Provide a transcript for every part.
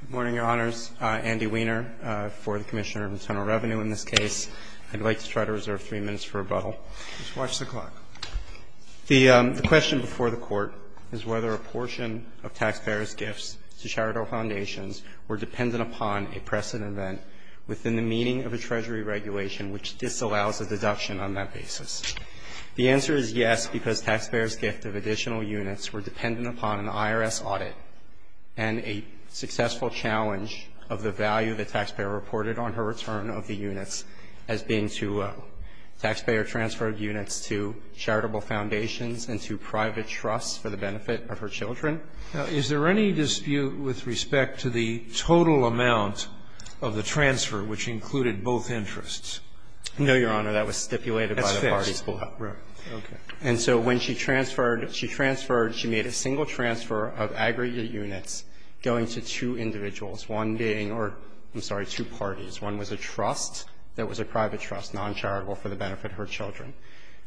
Good morning, Your Honors. Andy Weiner for the Commissioner of Internal Revenue in this case. I'd like to try to reserve three minutes for rebuttal. Just watch the clock. The question before the Court is whether a portion of taxpayers' gifts to charitable foundations were dependent upon a precedent event within the meaning of a Treasury regulation which disallows a deduction on that basis. The answer is yes, because taxpayers' gift of additional units were dependent upon an IRS audit and a successful challenge of the value the taxpayer reported on her return of the units as being too low. Taxpayer transferred units to charitable foundations and to private trusts for the benefit of her children. Is there any dispute with respect to the total amount of the transfer which included both interests? No, Your Honor. That was stipulated by the parties below. That's fixed. Right. Okay. And so when she transferred, she transferred, she made a single transfer of aggregate units going to two individuals, one being or, I'm sorry, two parties. One was a trust that was a private trust, noncharitable, for the benefit of her children.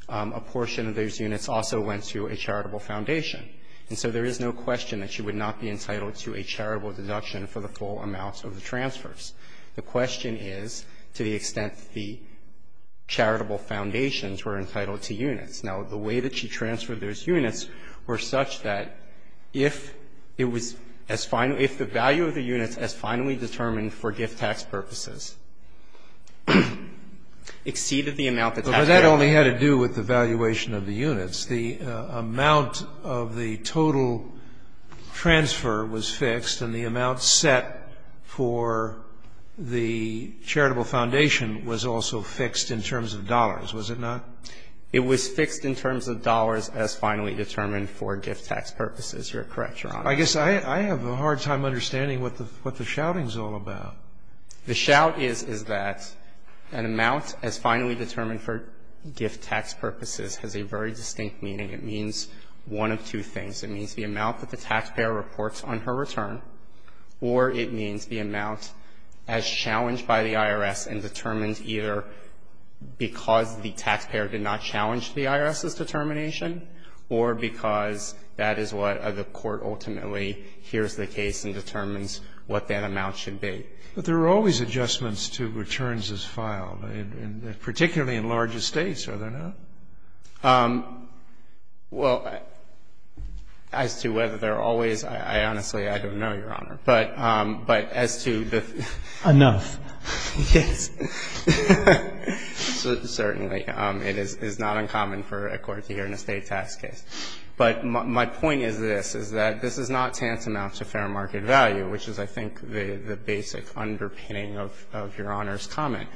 A portion of those units also went to a charitable foundation. And so there is no question that she would not be entitled to a charitable deduction for the full amount of the transfers. The question is, to the extent the charitable foundations were entitled to units. Now, the way that she transferred those units were such that if it was as final as the value of the units as finally determined for gift tax purposes exceeded the amount that taxpayer reported. But that only had to do with the valuation of the units. The amount of the total transfer was fixed and the amount set for the charitable foundation was also fixed in terms of dollars, was it not? It was fixed in terms of dollars as finally determined for gift tax purposes. You're correct, Your Honor. I guess I have a hard time understanding what the shouting is all about. The shout is that an amount as finally determined for gift tax purposes has a very distinct meaning. It means one of two things. It means the amount that the taxpayer reports on her return or it means the amount as challenged by the IRS and determined either because the taxpayer did not challenge the IRS's determination or because that is what the court ultimately hears the case and determines what that amount should be. But there are always adjustments to returns as filed, particularly in larger States, are there not? Well, as to whether there are always, I honestly don't know, Your Honor. But as to the ---- Enough. Yes. Certainly. It is not uncommon for a court to hear in a State tax case. But my point is this, is that this is not tantamount to fair market value, which is, I think, the basic underpinning of Your Honor's comment.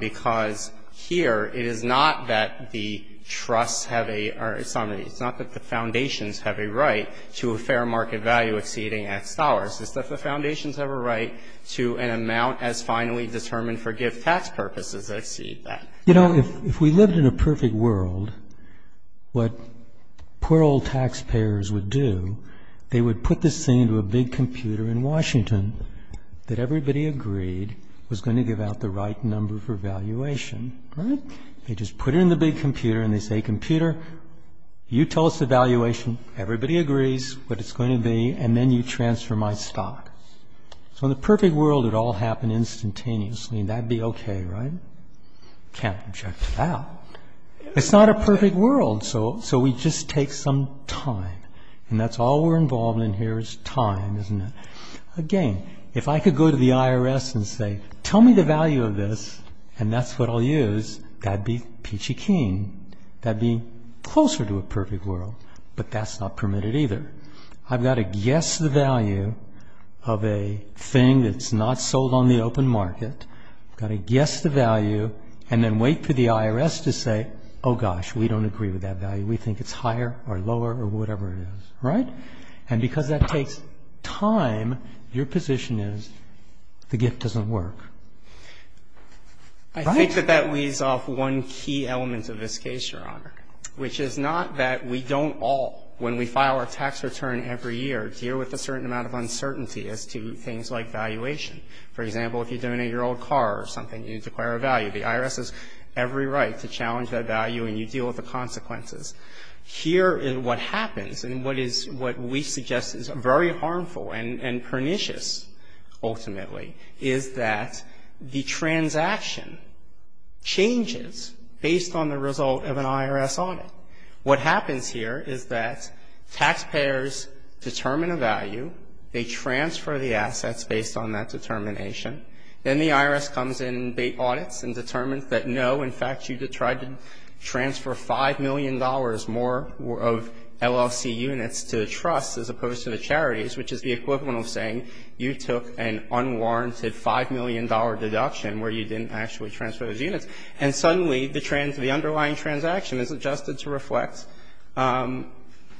Because here it is not that the trusts have a ---- it's not that the foundations have a right to a fair market value exceeding X dollars. It's that the foundations have a right to an amount as finally determined for gift tax purposes that exceed that. You know, if we lived in a perfect world, what poor old taxpayers would do, they would put this thing into a big computer in Washington that everybody agreed was going to give out the right number for valuation, right? They just put it in the big computer and they say, computer, you tell us the valuation, everybody agrees what it's going to be, and then you transfer my stock. So in the perfect world, it all happened instantaneously, and that would be okay, right? Can't object to that. It's not a perfect world, so we just take some time. And that's all we're involved in here is time, isn't it? Again, if I could go to the IRS and say, tell me the value of this, and that's what I'll use, that'd be peachy keen. That'd be closer to a perfect world, but that's not permitted either. I've got to guess the value of a thing that's not sold on the open market, got to guess the value, and then wait for the IRS to say, oh gosh, we don't agree with that value, we think it's higher or lower or whatever it is, right? And because that takes time, your position is the gift doesn't work. Right? I think that that leaves off one key element of this case, Your Honor, which is not that we don't all, when we file our tax return every year, deal with a certain amount of uncertainty as to things like valuation. For example, if you donate your old car or something, you declare a value. The IRS has every right to challenge that value and you deal with the consequences. Here is what happens, and what we suggest is very harmful and pernicious ultimately, is that the transaction changes based on the result of an IRS audit. What happens here is that taxpayers determine a value, they transfer the assets based on that determination, then the IRS comes and audits and determines that you know, in fact, you tried to transfer $5 million more of LLC units to the trusts as opposed to the charities, which is the equivalent of saying you took an unwarranted $5 million deduction where you didn't actually transfer those units, and suddenly the underlying transaction is adjusted to reflect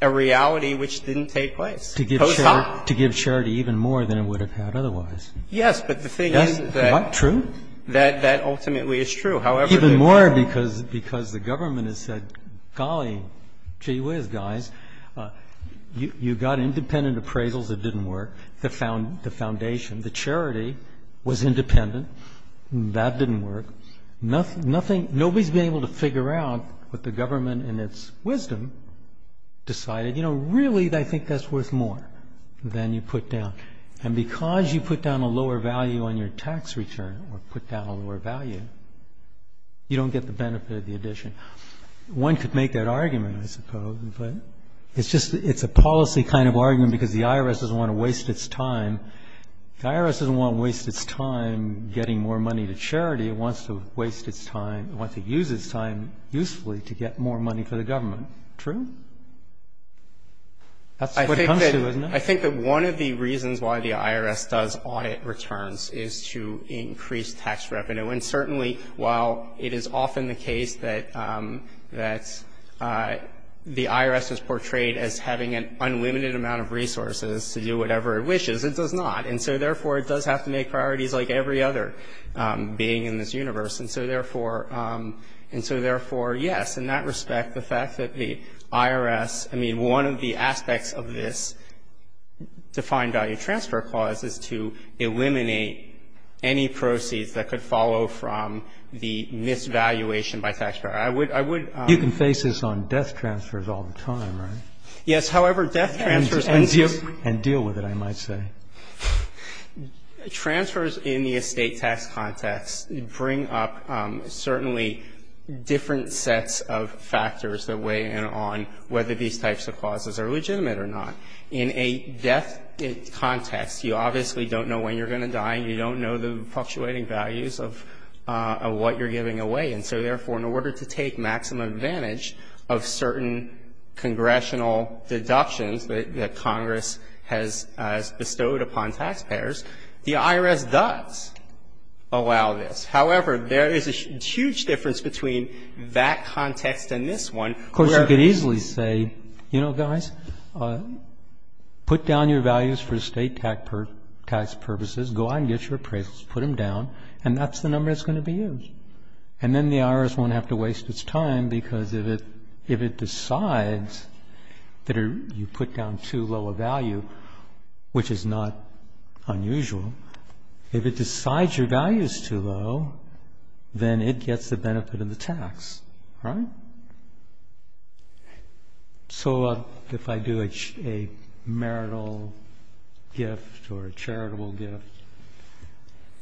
a reality which didn't take place. To give charity even more than it would have had otherwise. Yes, but the thing is that ultimately it's true. Even more because the government has said, golly gee whiz guys. You got independent appraisals that didn't work. The foundation, the charity was independent. That didn't work. Nobody's been able to figure out what the government in its wisdom decided. You know, really I think that's worth more than you put down. And because you put down a lower value on your tax return or put down a lower value you don't get the benefit of the addition. One could make that argument, I suppose, but it's just, it's a policy kind of argument because the IRS doesn't want to waste its time. The IRS doesn't want to waste its time getting more money to charity. It wants to waste its time, it wants to use its time usefully to get more money for the government. True? That's what it comes to, isn't it? I think that one of the reasons why the IRS does audit returns is to increase tax revenue. And certainly while it is often the case that the IRS is portrayed as having an unlimited amount of resources to do whatever it wishes, it does not. And so, therefore, it does have to make priorities like every other being in this universe. And so, therefore, yes, in that respect, the fact that the IRS, I mean, one of the aspects of this defined value transfer clause is to eliminate any proceeds that could follow from the misvaluation by taxpayer. I would, I would. You can face this on death transfers all the time, right? Yes, however, death transfers. And deal with it, I might say. Transfers in the estate tax context bring up certainly different sets of factors that weigh in on whether these types of clauses are legitimate or not. In a death context, you obviously don't know when you're going to die and you don't know the fluctuating values of what you're giving away. And so, therefore, in order to take maximum advantage of certain congressional deductions that Congress has bestowed upon taxpayers, the IRS does allow this. Of course, you could easily say, you know, guys, put down your values for estate tax purposes. Go out and get your appraisals. Put them down. And that's the number that's going to be used. And then the IRS won't have to waste its time because if it decides that you put down too low a value, which is not unusual, if it decides your value is too low, then it gets the benefit of the tax, right? So if I do a marital gift or a charitable gift.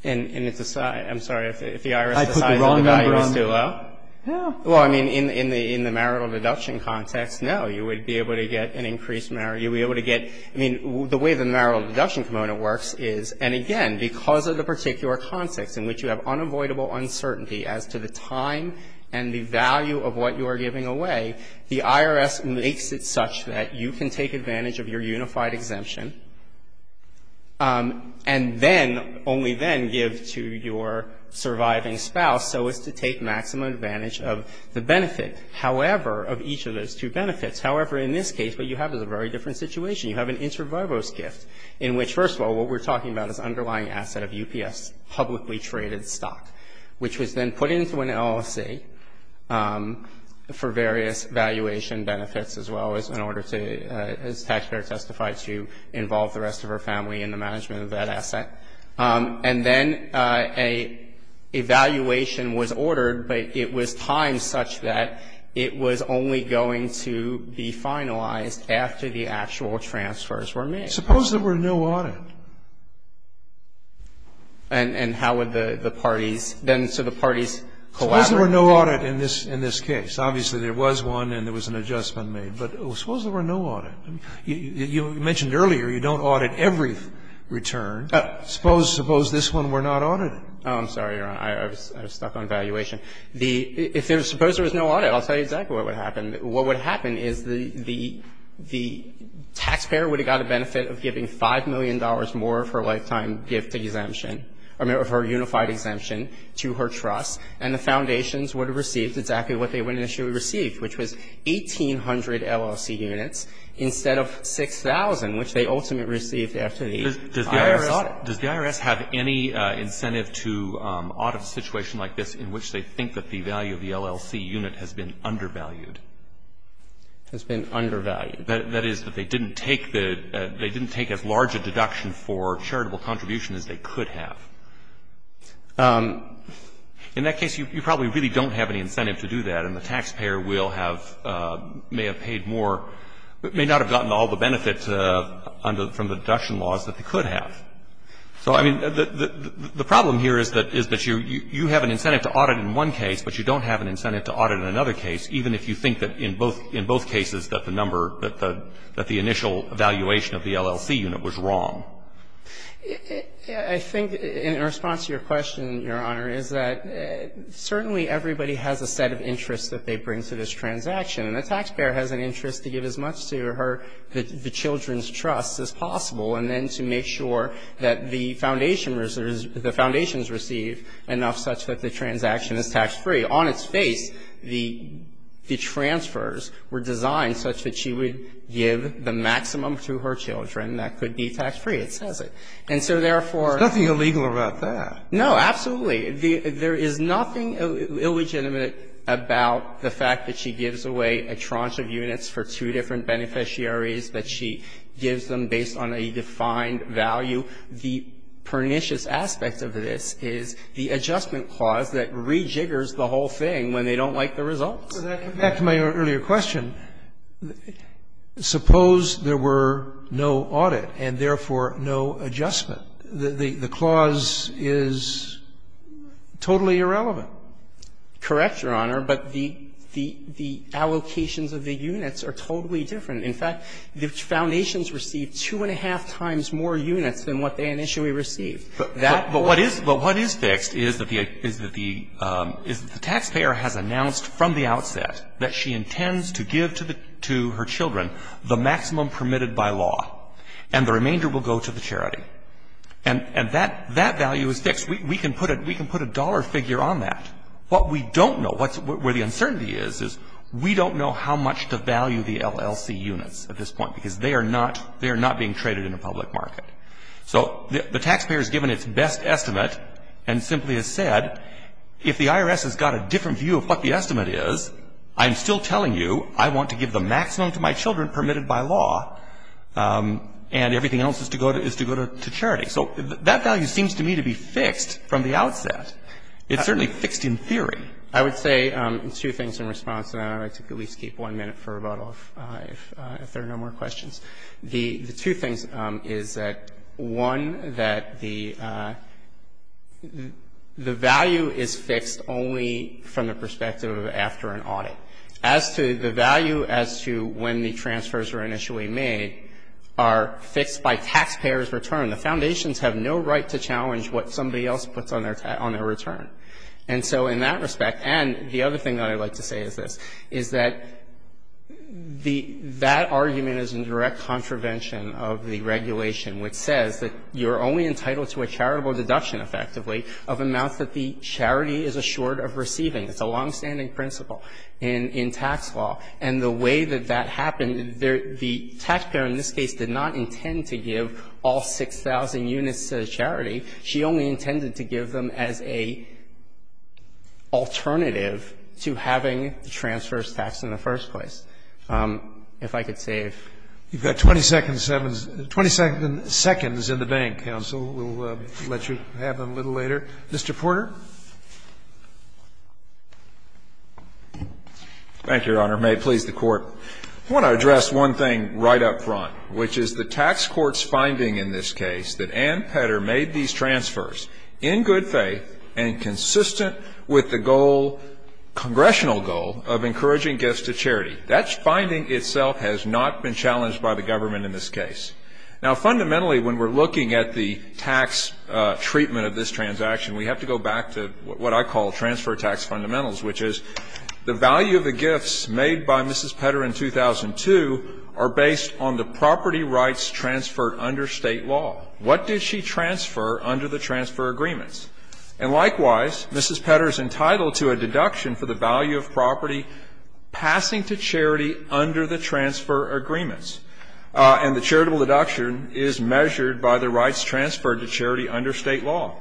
And if the IRS decides the value is too low? Yeah. Well, I mean, in the marital deduction context, no. You would be able to get an increased marital. You would be able to get the way the marital deduction component works is, and again, because of the particular context in which you have unavoidable uncertainty as to the time and the value of what you are giving away, the IRS makes it such that you can take advantage of your unified exemption and then, only then, give to your surviving spouse so as to take maximum advantage of the benefit, however, of each of those two benefits. However, in this case, what you have is a very different situation. You have an inter vivos gift in which, first of all, what we're talking about is underlying asset of UPS, publicly traded stock, which was then put into an LLC for various valuation benefits, as well as in order to, as Taxpayer testified, to involve the rest of her family in the management of that asset. And then a valuation was ordered, but it was timed such that it was only going to be finalized after the actual transfers were made. Suppose there were no audit. And how would the parties then, so the parties collaborated? Suppose there were no audit in this case. Obviously, there was one and there was an adjustment made. But suppose there were no audit. You mentioned earlier you don't audit every return. Suppose this one we're not auditing. Oh, I'm sorry, Your Honor. I was stuck on valuation. If there was no audit, I'll tell you exactly what would happen. What would happen is the taxpayer would have got the benefit of giving $5 million more of her lifetime gift exemption, of her unified exemption to her trust, and the foundations would have received exactly what they initially received, which was 1,800 LLC units instead of 6,000, which they ultimately received after the IRS audit. Does the IRS have any incentive to audit a situation like this in which they think that the value of the LLC unit has been undervalued? Has been undervalued. That is, that they didn't take as large a deduction for charitable contribution as they could have. In that case, you probably really don't have any incentive to do that, and the taxpayer may have paid more, but may not have gotten all the benefits from the deduction laws that they could have. So, I mean, the problem here is that you have an incentive to audit in one case, but you don't have an incentive to audit in another case, even if you think that in both cases that the number, that the initial valuation of the LLC unit was wrong. I think in response to your question, Your Honor, is that certainly everybody has a set of interests that they bring to this transaction, and the taxpayer has an interest to give as much to her, the children's trust as possible, and then to make sure that the foundation receives, the foundations receive enough such that the transaction is tax-free. On its face, the transfers were designed such that she would give the maximum to her children that could be tax-free. It says it. And so, therefore, There's nothing illegal about that. No, absolutely. There is nothing illegitimate about the fact that she gives away a tranche of units for two different beneficiaries, that she gives them based on a defined value. The pernicious aspect of this is the adjustment clause that rejiggers the whole thing when they don't like the results. Back to my earlier question, suppose there were no audit and, therefore, no adjustment. The clause is totally irrelevant. Correct, Your Honor. But the allocations of the units are totally different. In fact, the foundations receive two and a half times more units than what they initially received. But what is fixed is that the taxpayer has announced from the outset that she intends to give to her children the maximum permitted by law, and the remainder will go to the charity. And that value is fixed. We can put a dollar figure on that. What we don't know, where the uncertainty is, is we don't know how much to value the LLC units at this point, because they are not being traded in a public market. So the taxpayer has given its best estimate and simply has said, if the IRS has got a different view of what the estimate is, I'm still telling you I want to give the maximum to my children permitted by law, and everything else is to go to charity. So that value seems to me to be fixed from the outset. It's certainly fixed in theory. I would say two things in response, and I'd like to at least keep one minute for rebuttal if there are no more questions. The two things is that, one, that the value is fixed only from the perspective of after an audit. As to the value as to when the transfers were initially made are fixed by taxpayer's return. The foundations have no right to challenge what somebody else puts on their return. And so in that respect, and the other thing that I'd like to say is this, is that the that argument is in direct contravention of the regulation, which says that you are only entitled to a charitable deduction, effectively, of amounts that the charity is assured of receiving. It's a longstanding principle in tax law. And the way that that happened, the taxpayer in this case did not intend to give all 6,000 units to the charity. She only intended to give them as a alternative to having the transfers taxed in the first place. If I could save. Scalia. You've got 20 seconds in the bank, counsel. We'll let you have them a little later. Mr. Porter. Porter. Thank you, Your Honor. May it please the Court. I want to address one thing right up front, which is the tax court's finding in this case that Ann Petter made these transfers in good faith and consistent with the goal, congressional goal, of encouraging gifts to charity. That finding itself has not been challenged by the government in this case. Now, fundamentally, when we're looking at the tax treatment of this transaction, we have to go back to what I call transfer tax fundamentals, which is the value of the gifts made by Mrs. Petter in 2002 are based on the property rights transferred under State law. What did she transfer under the transfer agreements? And likewise, Mrs. Petter is entitled to a deduction for the value of property passing to charity under the transfer agreements. And the charitable deduction is measured by the rights transferred to charity under State law.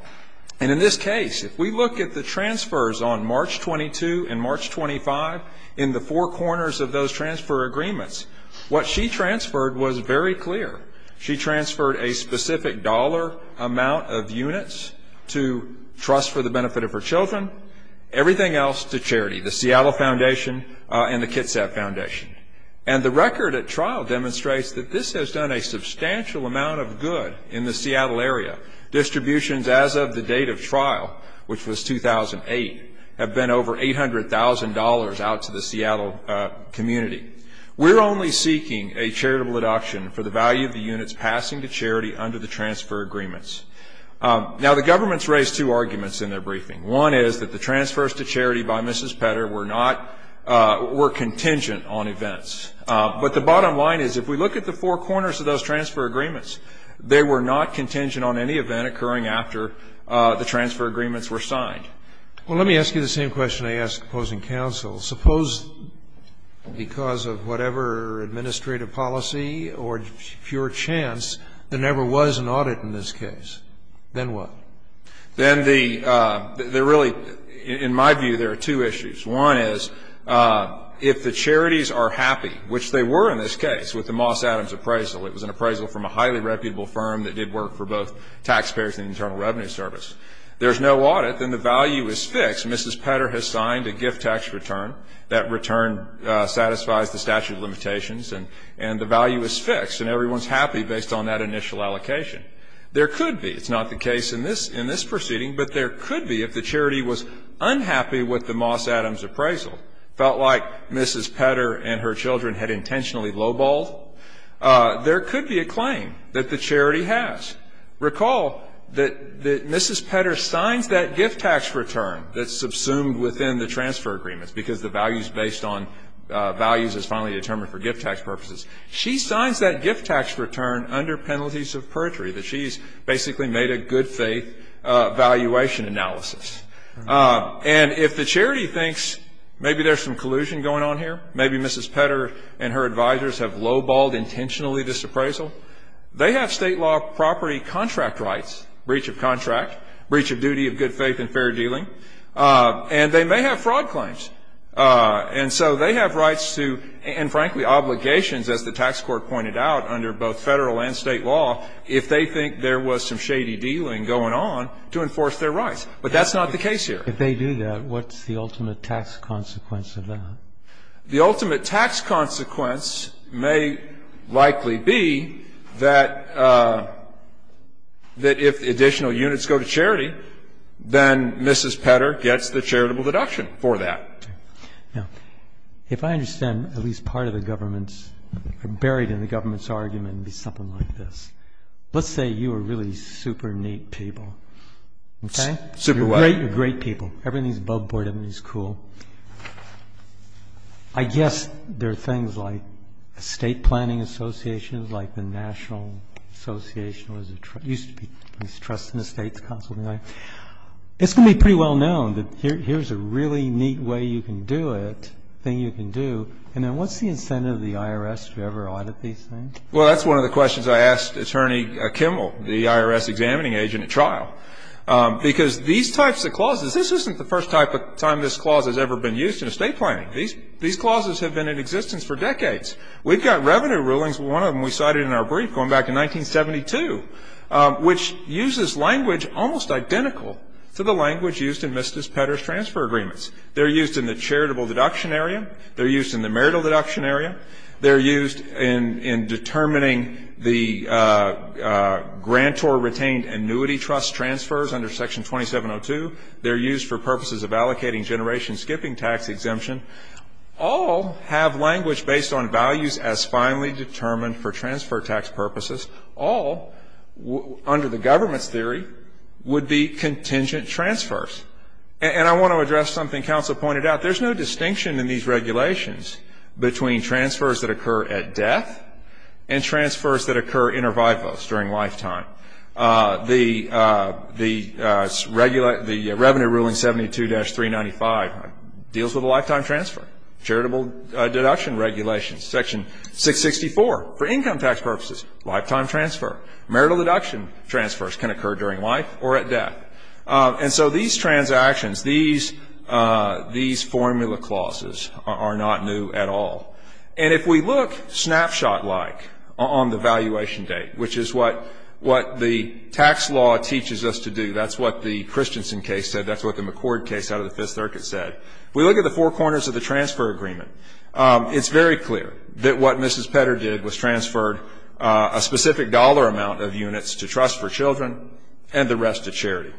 And in this case, if we look at the transfers on March 22 and March 25 in the four corners of those transfer agreements, what she transferred was very clear. She transferred a specific dollar amount of units to trust for the benefit of her children, everything else to charity, the Seattle Foundation and the Kitsap Foundation. And the record at trial demonstrates that this has done a substantial amount of good in the Seattle area. Distributions as of the date of trial, which was 2008, have been over $800,000 out to the Seattle community. We're only seeking a charitable deduction for the value of the units passing to charity under the transfer agreements. Now, the government's raised two arguments in their briefing. One is that the transfers to charity by Mrs. Petter were contingent on events. But the bottom line is if we look at the four corners of those transfer agreements, they were not contingent on any event occurring after the transfer agreements were signed. Well, let me ask you the same question I asked opposing counsel. Suppose because of whatever administrative policy or pure chance, there never was an audit in this case. Then what? Then the really, in my view, there are two issues. One is if the charities are happy, which they were in this case with the Moss Adams appraisal. It was an appraisal from a highly reputable firm that did work for both taxpayers and the Internal Revenue Service. There's no audit, then the value is fixed. Mrs. Petter has signed a gift tax return. That return satisfies the statute of limitations, and the value is fixed, and everyone's happy based on that initial allocation. There could be, it's not the case in this proceeding, but there could be if the charity was unhappy with the Moss Adams appraisal, felt like Mrs. Petter and her children had intentionally low-balled, there could be a claim that the charity has. Recall that Mrs. Petter signs that gift tax return that's subsumed within the transfer agreements because the value is based on values as finally determined for gift tax purposes. She signs that gift tax return under penalties of perjury, that she's basically made a good faith valuation analysis. And if the charity thinks maybe there's some collusion going on here, maybe Mrs. Petter and her advisors have low-balled intentionally this appraisal, they have state law property contract rights, breach of contract, breach of duty of good faith and fair dealing, and they may have fraud claims. And so they have rights to, and frankly obligations, as the tax court pointed out, under both federal and state law, if they think there was some shady dealing going on to enforce their rights. But that's not the case here. If they do that, what's the ultimate tax consequence of that? The ultimate tax consequence may likely be that if additional units go to charity, then Mrs. Petter gets the charitable deduction for that. Now, if I understand, at least part of the government's, buried in the government's argument would be something like this. Let's say you are really super neat people. Okay? Super what? You're great people. Everything's above board. Everything's cool. I guess there are things like estate planning associations, like the National Association, used to be, these trust and estates consultancy. It's going to be pretty well known that here's a really neat way you can do it, thing you can do, and then what's the incentive of the IRS to ever audit these things? Well, that's one of the questions I asked Attorney Kimmel, the IRS examining agent at trial. Because these types of clauses, this isn't the first time this clause has ever been used in estate planning. These clauses have been in existence for decades. We've got revenue rulings, one of them we cited in our brief going back in 1972, which uses language almost identical to the language used in Mrs. Petter's transfer agreements. They're used in the charitable deduction area. They're used in the marital deduction area. They're used in determining the grantor retained annuity trust transfers under Section 2702. They're used for purposes of allocating generation skipping tax exemption. All have language based on values as finally determined for transfer tax purposes. All, under the government's theory, would be contingent transfers. And I want to address something counsel pointed out. There's no distinction in these regulations between transfers that occur at death and transfers that occur inter vivos, during lifetime. The revenue ruling 72-395 deals with a lifetime transfer. Charitable deduction regulations, Section 664, for income tax purposes, lifetime transfer. Marital deduction transfers can occur during life or at death. And so these transactions, these formula clauses are not new at all. And if we look snapshot-like on the valuation date, which is what the tax law teaches us to do, that's what the Christensen case said, that's what the McCord case out of the Fifth Circuit said, if we look at the four corners of the transfer agreement, it's very clear that what Mrs. Petter did was transferred a specific dollar amount of units to trust for children and the rest to charity.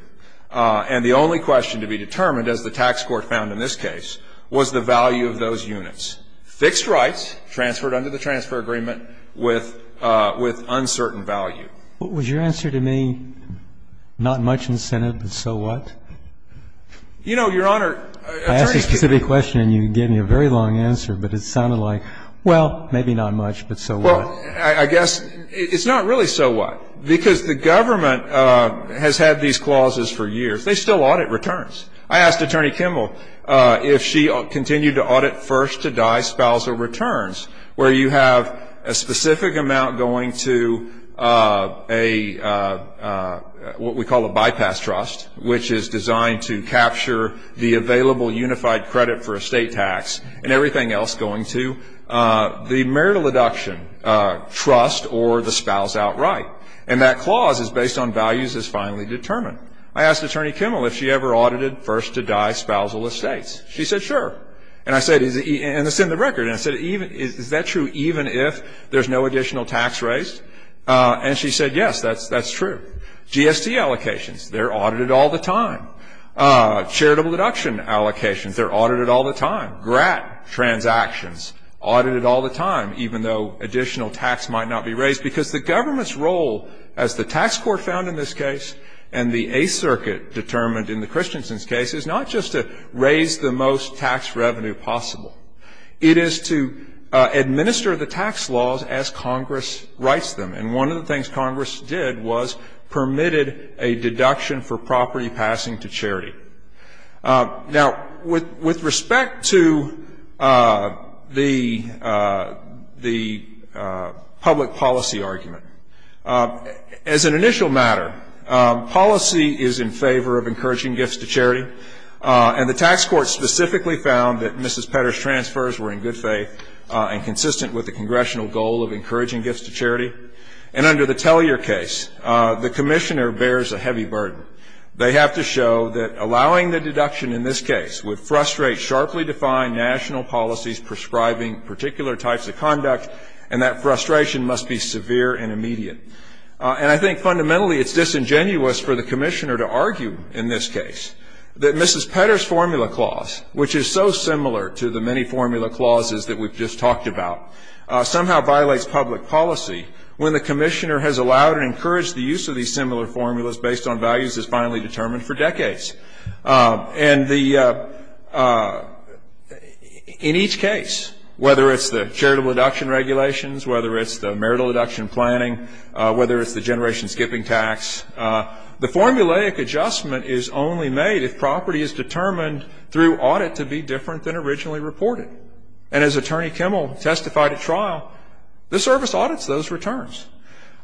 And the only question to be determined, as the tax court found in this case, was the value of those units. Fixed rights transferred under the transfer agreement with uncertain value. Was your answer to me, not much incentive, but so what? You know, Your Honor, I turned to you. I asked a specific question and you gave me a very long answer, but it sounded like, well, maybe not much, but so what. Well, I guess it's not really so what. Because the government has had these clauses for years. They still audit returns. I asked Attorney Kimball if she continued to audit first-to-die spousal returns, where you have a specific amount going to what we call a bypass trust, which is designed to capture the available unified credit for estate tax and everything else going to. The marital deduction trust or the spouse outright. And that clause is based on values as finally determined. I asked Attorney Kimball if she ever audited first-to-die spousal estates. She said, sure. And I said, and it's in the record. And I said, is that true even if there's no additional tax raised? And she said, yes, that's true. GST allocations, they're audited all the time. Charitable deduction allocations, they're audited all the time. Grat transactions, audited all the time, even though additional tax might not be raised. Because the government's role, as the tax court found in this case and the Eighth Circuit determined in the Christensen's case, is not just to raise the most tax revenue possible. It is to administer the tax laws as Congress writes them. And one of the things Congress did was permitted a deduction for property passing to charity. Now, with respect to the public policy argument, as an initial matter, policy is in favor of encouraging gifts to charity. And the tax court specifically found that Mrs. Petter's transfers were in good faith and consistent with the congressional goal of encouraging gifts to charity. And under the Tellyer case, the commissioner bears a heavy burden. They have to show that allowing the deduction in this case would frustrate sharply defined national policies prescribing particular types of conduct, and that frustration must be severe and immediate. And I think fundamentally it's disingenuous for the commissioner to argue in this case that Mrs. Petter's formula clause, which is so similar to the many formula clauses that we've just talked about, somehow violates public policy when the commissioner has allowed and encouraged the use of these similar formulas based on values that's finally determined for decades. And in each case, whether it's the charitable deduction regulations, whether it's the marital deduction planning, whether it's the generation skipping tax, the formulaic adjustment is only made if property is determined through audit to be different than originally reported. And as Attorney Kimmel testified at trial, the service audits those returns.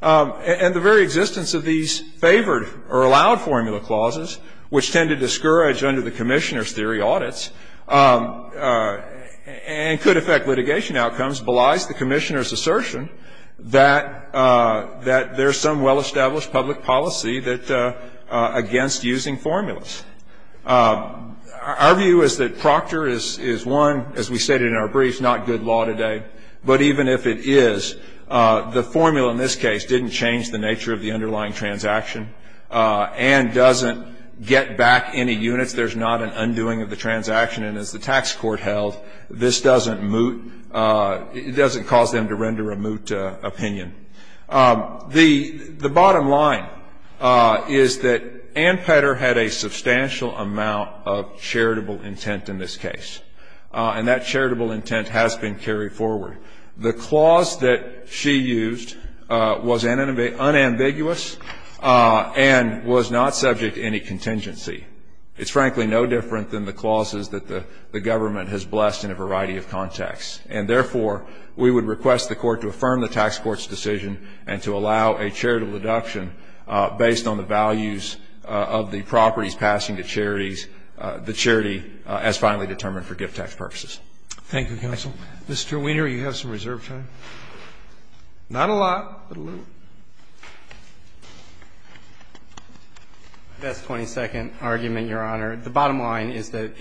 And the very existence of these favored or allowed formula clauses, which tend to discourage under the commissioner's theory audits and could affect litigation outcomes, belies the commissioner's assertion that there's some well-established public policy against using formulas. Our view is that Proctor is one, as we stated in our brief, not good law today. But even if it is, the formula in this case didn't change the nature of the underlying transaction and doesn't get back any units. There's not an undoing of the transaction. And as the tax court held, this doesn't cause them to render a moot opinion. The bottom line is that Ann Petter had a substantial amount of charitable intent in this case. And that charitable intent has been carried forward. The clause that she used was unambiguous and was not subject to any contingency. It's frankly no different than the clauses that the government has blessed in a variety of contexts. And therefore, we would request the court to affirm the tax court's decision and to allow a charitable deduction based on the values of the properties passing to charities, the charity as finally determined for gift tax purposes. Thank you, counsel. Mr. Weiner, you have some reserve time. Not a lot, but a little. That's a 22nd argument, Your Honor. The bottom line is that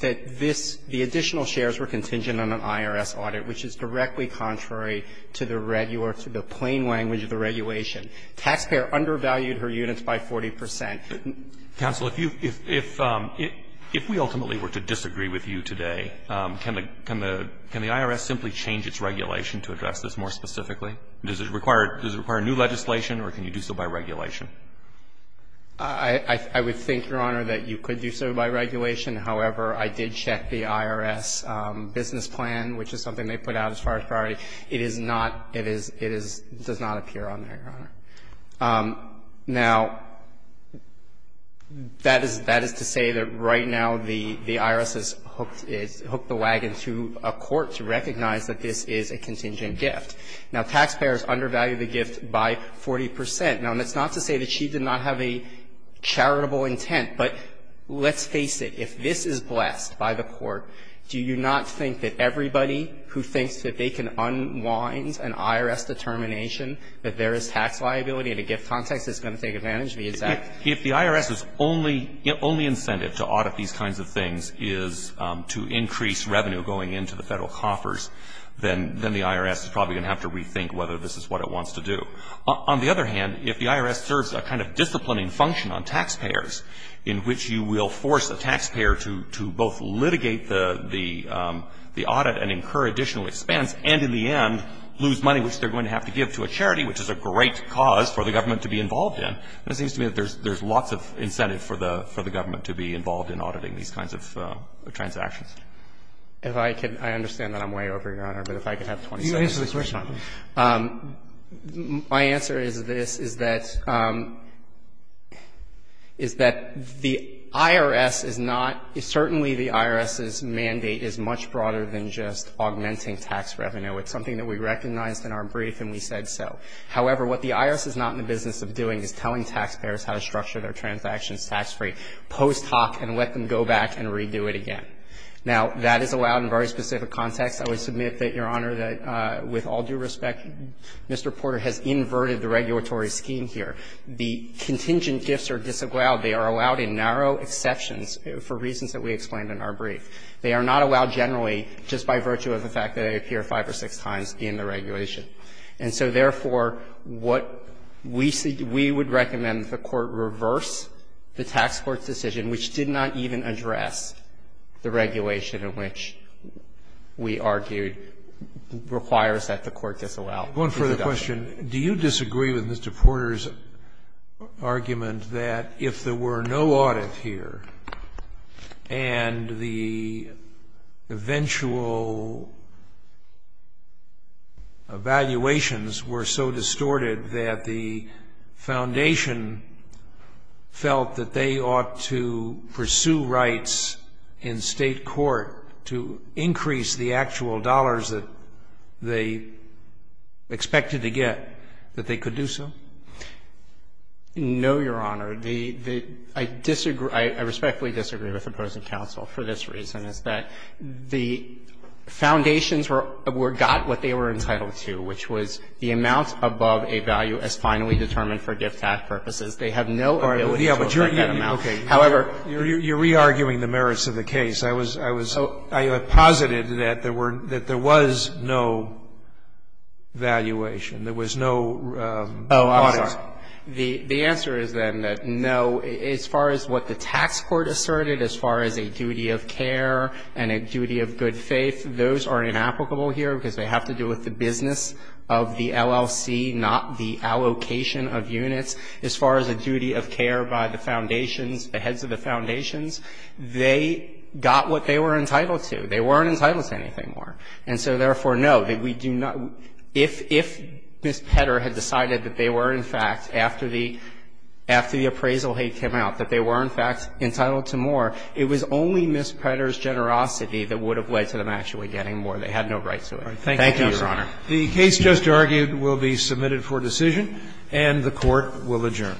this, the additional shares were contingent on an IRS audit, which is directly contrary to the plain language of the regulation. Taxpayer undervalued her units by 40 percent. Counsel, if you, if we ultimately were to disagree with you today, can the IRS simply change its regulation to address this more specifically? Does it require new legislation or can you do so by regulation? I would think, Your Honor, that you could do so by regulation. However, I did check the IRS business plan, which is something they put out as far as priority. It is not, it is, it does not appear on there, Your Honor. Now, that is, that is to say that right now the IRS has hooked, has hooked the wagon to a court to recognize that this is a contingent gift. Now, taxpayers undervalued the gift by 40 percent. Now, and that's not to say that she did not have a charitable intent, but let's face it. If this is blessed by the court, do you not think that everybody who thinks that they can unwind an IRS determination that there is tax liability in a gift context is going to take advantage of the exact? If the IRS's only incentive to audit these kinds of things is to increase revenue going into the Federal coffers, then the IRS is probably going to have to rethink whether this is what it wants to do. On the other hand, if the IRS serves a kind of disciplining function on taxpayers in which you will force a taxpayer to both litigate the audit and incur additional expenses, and in the end lose money which they're going to have to give to a charity, which is a great cause for the government to be involved in, then it seems to me that there's lots of incentive for the government to be involved in auditing these kinds of transactions. If I could, I understand that I'm way over, Your Honor, but if I could have 20 seconds to respond. My answer is this, is that, is that the IRS is not, certainly the IRS's mandate is much broader than just augmenting tax revenue. It's something that we recognized in our brief and we said so. However, what the IRS is not in the business of doing is telling taxpayers how to structure their transactions tax-free post hoc and let them go back and redo it again. Now, that is allowed in very specific contexts. I would submit that, Your Honor, that with all due respect, Mr. Porter has inverted the regulatory scheme here. The contingent gifts are disallowed. They are allowed in narrow exceptions for reasons that we explained in our brief. They are not allowed generally just by virtue of the fact that they appear five or six times in the regulation. And so, therefore, what we see, we would recommend the Court reverse the tax court's decision, which did not even address the regulation in which we argued requires that the Court disallow. Scalia. One further question. Do you disagree with Mr. Porter's argument that if there were no audit here and the eventual evaluations were so distorted that the foundation felt that they ought to do so? No, Your Honor. I respectfully disagree with opposing counsel for this reason, is that the foundations got what they were entitled to, which was the amount above a value as finally determined for gift tax purposes. They have no ability to assert that amount. However you're re-arguing the merits of the case. I was, I was, I posited that there were, that there was no evaluation. There was no audit. Oh, I'm sorry. The answer is then that no, as far as what the tax court asserted, as far as a duty of care and a duty of good faith, those are inapplicable here because they have to do with the business of the LLC, not the allocation of units. As far as a duty of care by the foundations, the heads of the foundations, they got what they were entitled to. They weren't entitled to anything more. And so, therefore, no, that we do not, if, if Ms. Petter had decided that they were in fact, after the, after the appraisal had come out, that they were in fact entitled to more, it was only Ms. Petter's generosity that would have led to them actually They had no right to it. Thank you, Your Honor. The case just argued will be submitted for decision and the Court will adjourn.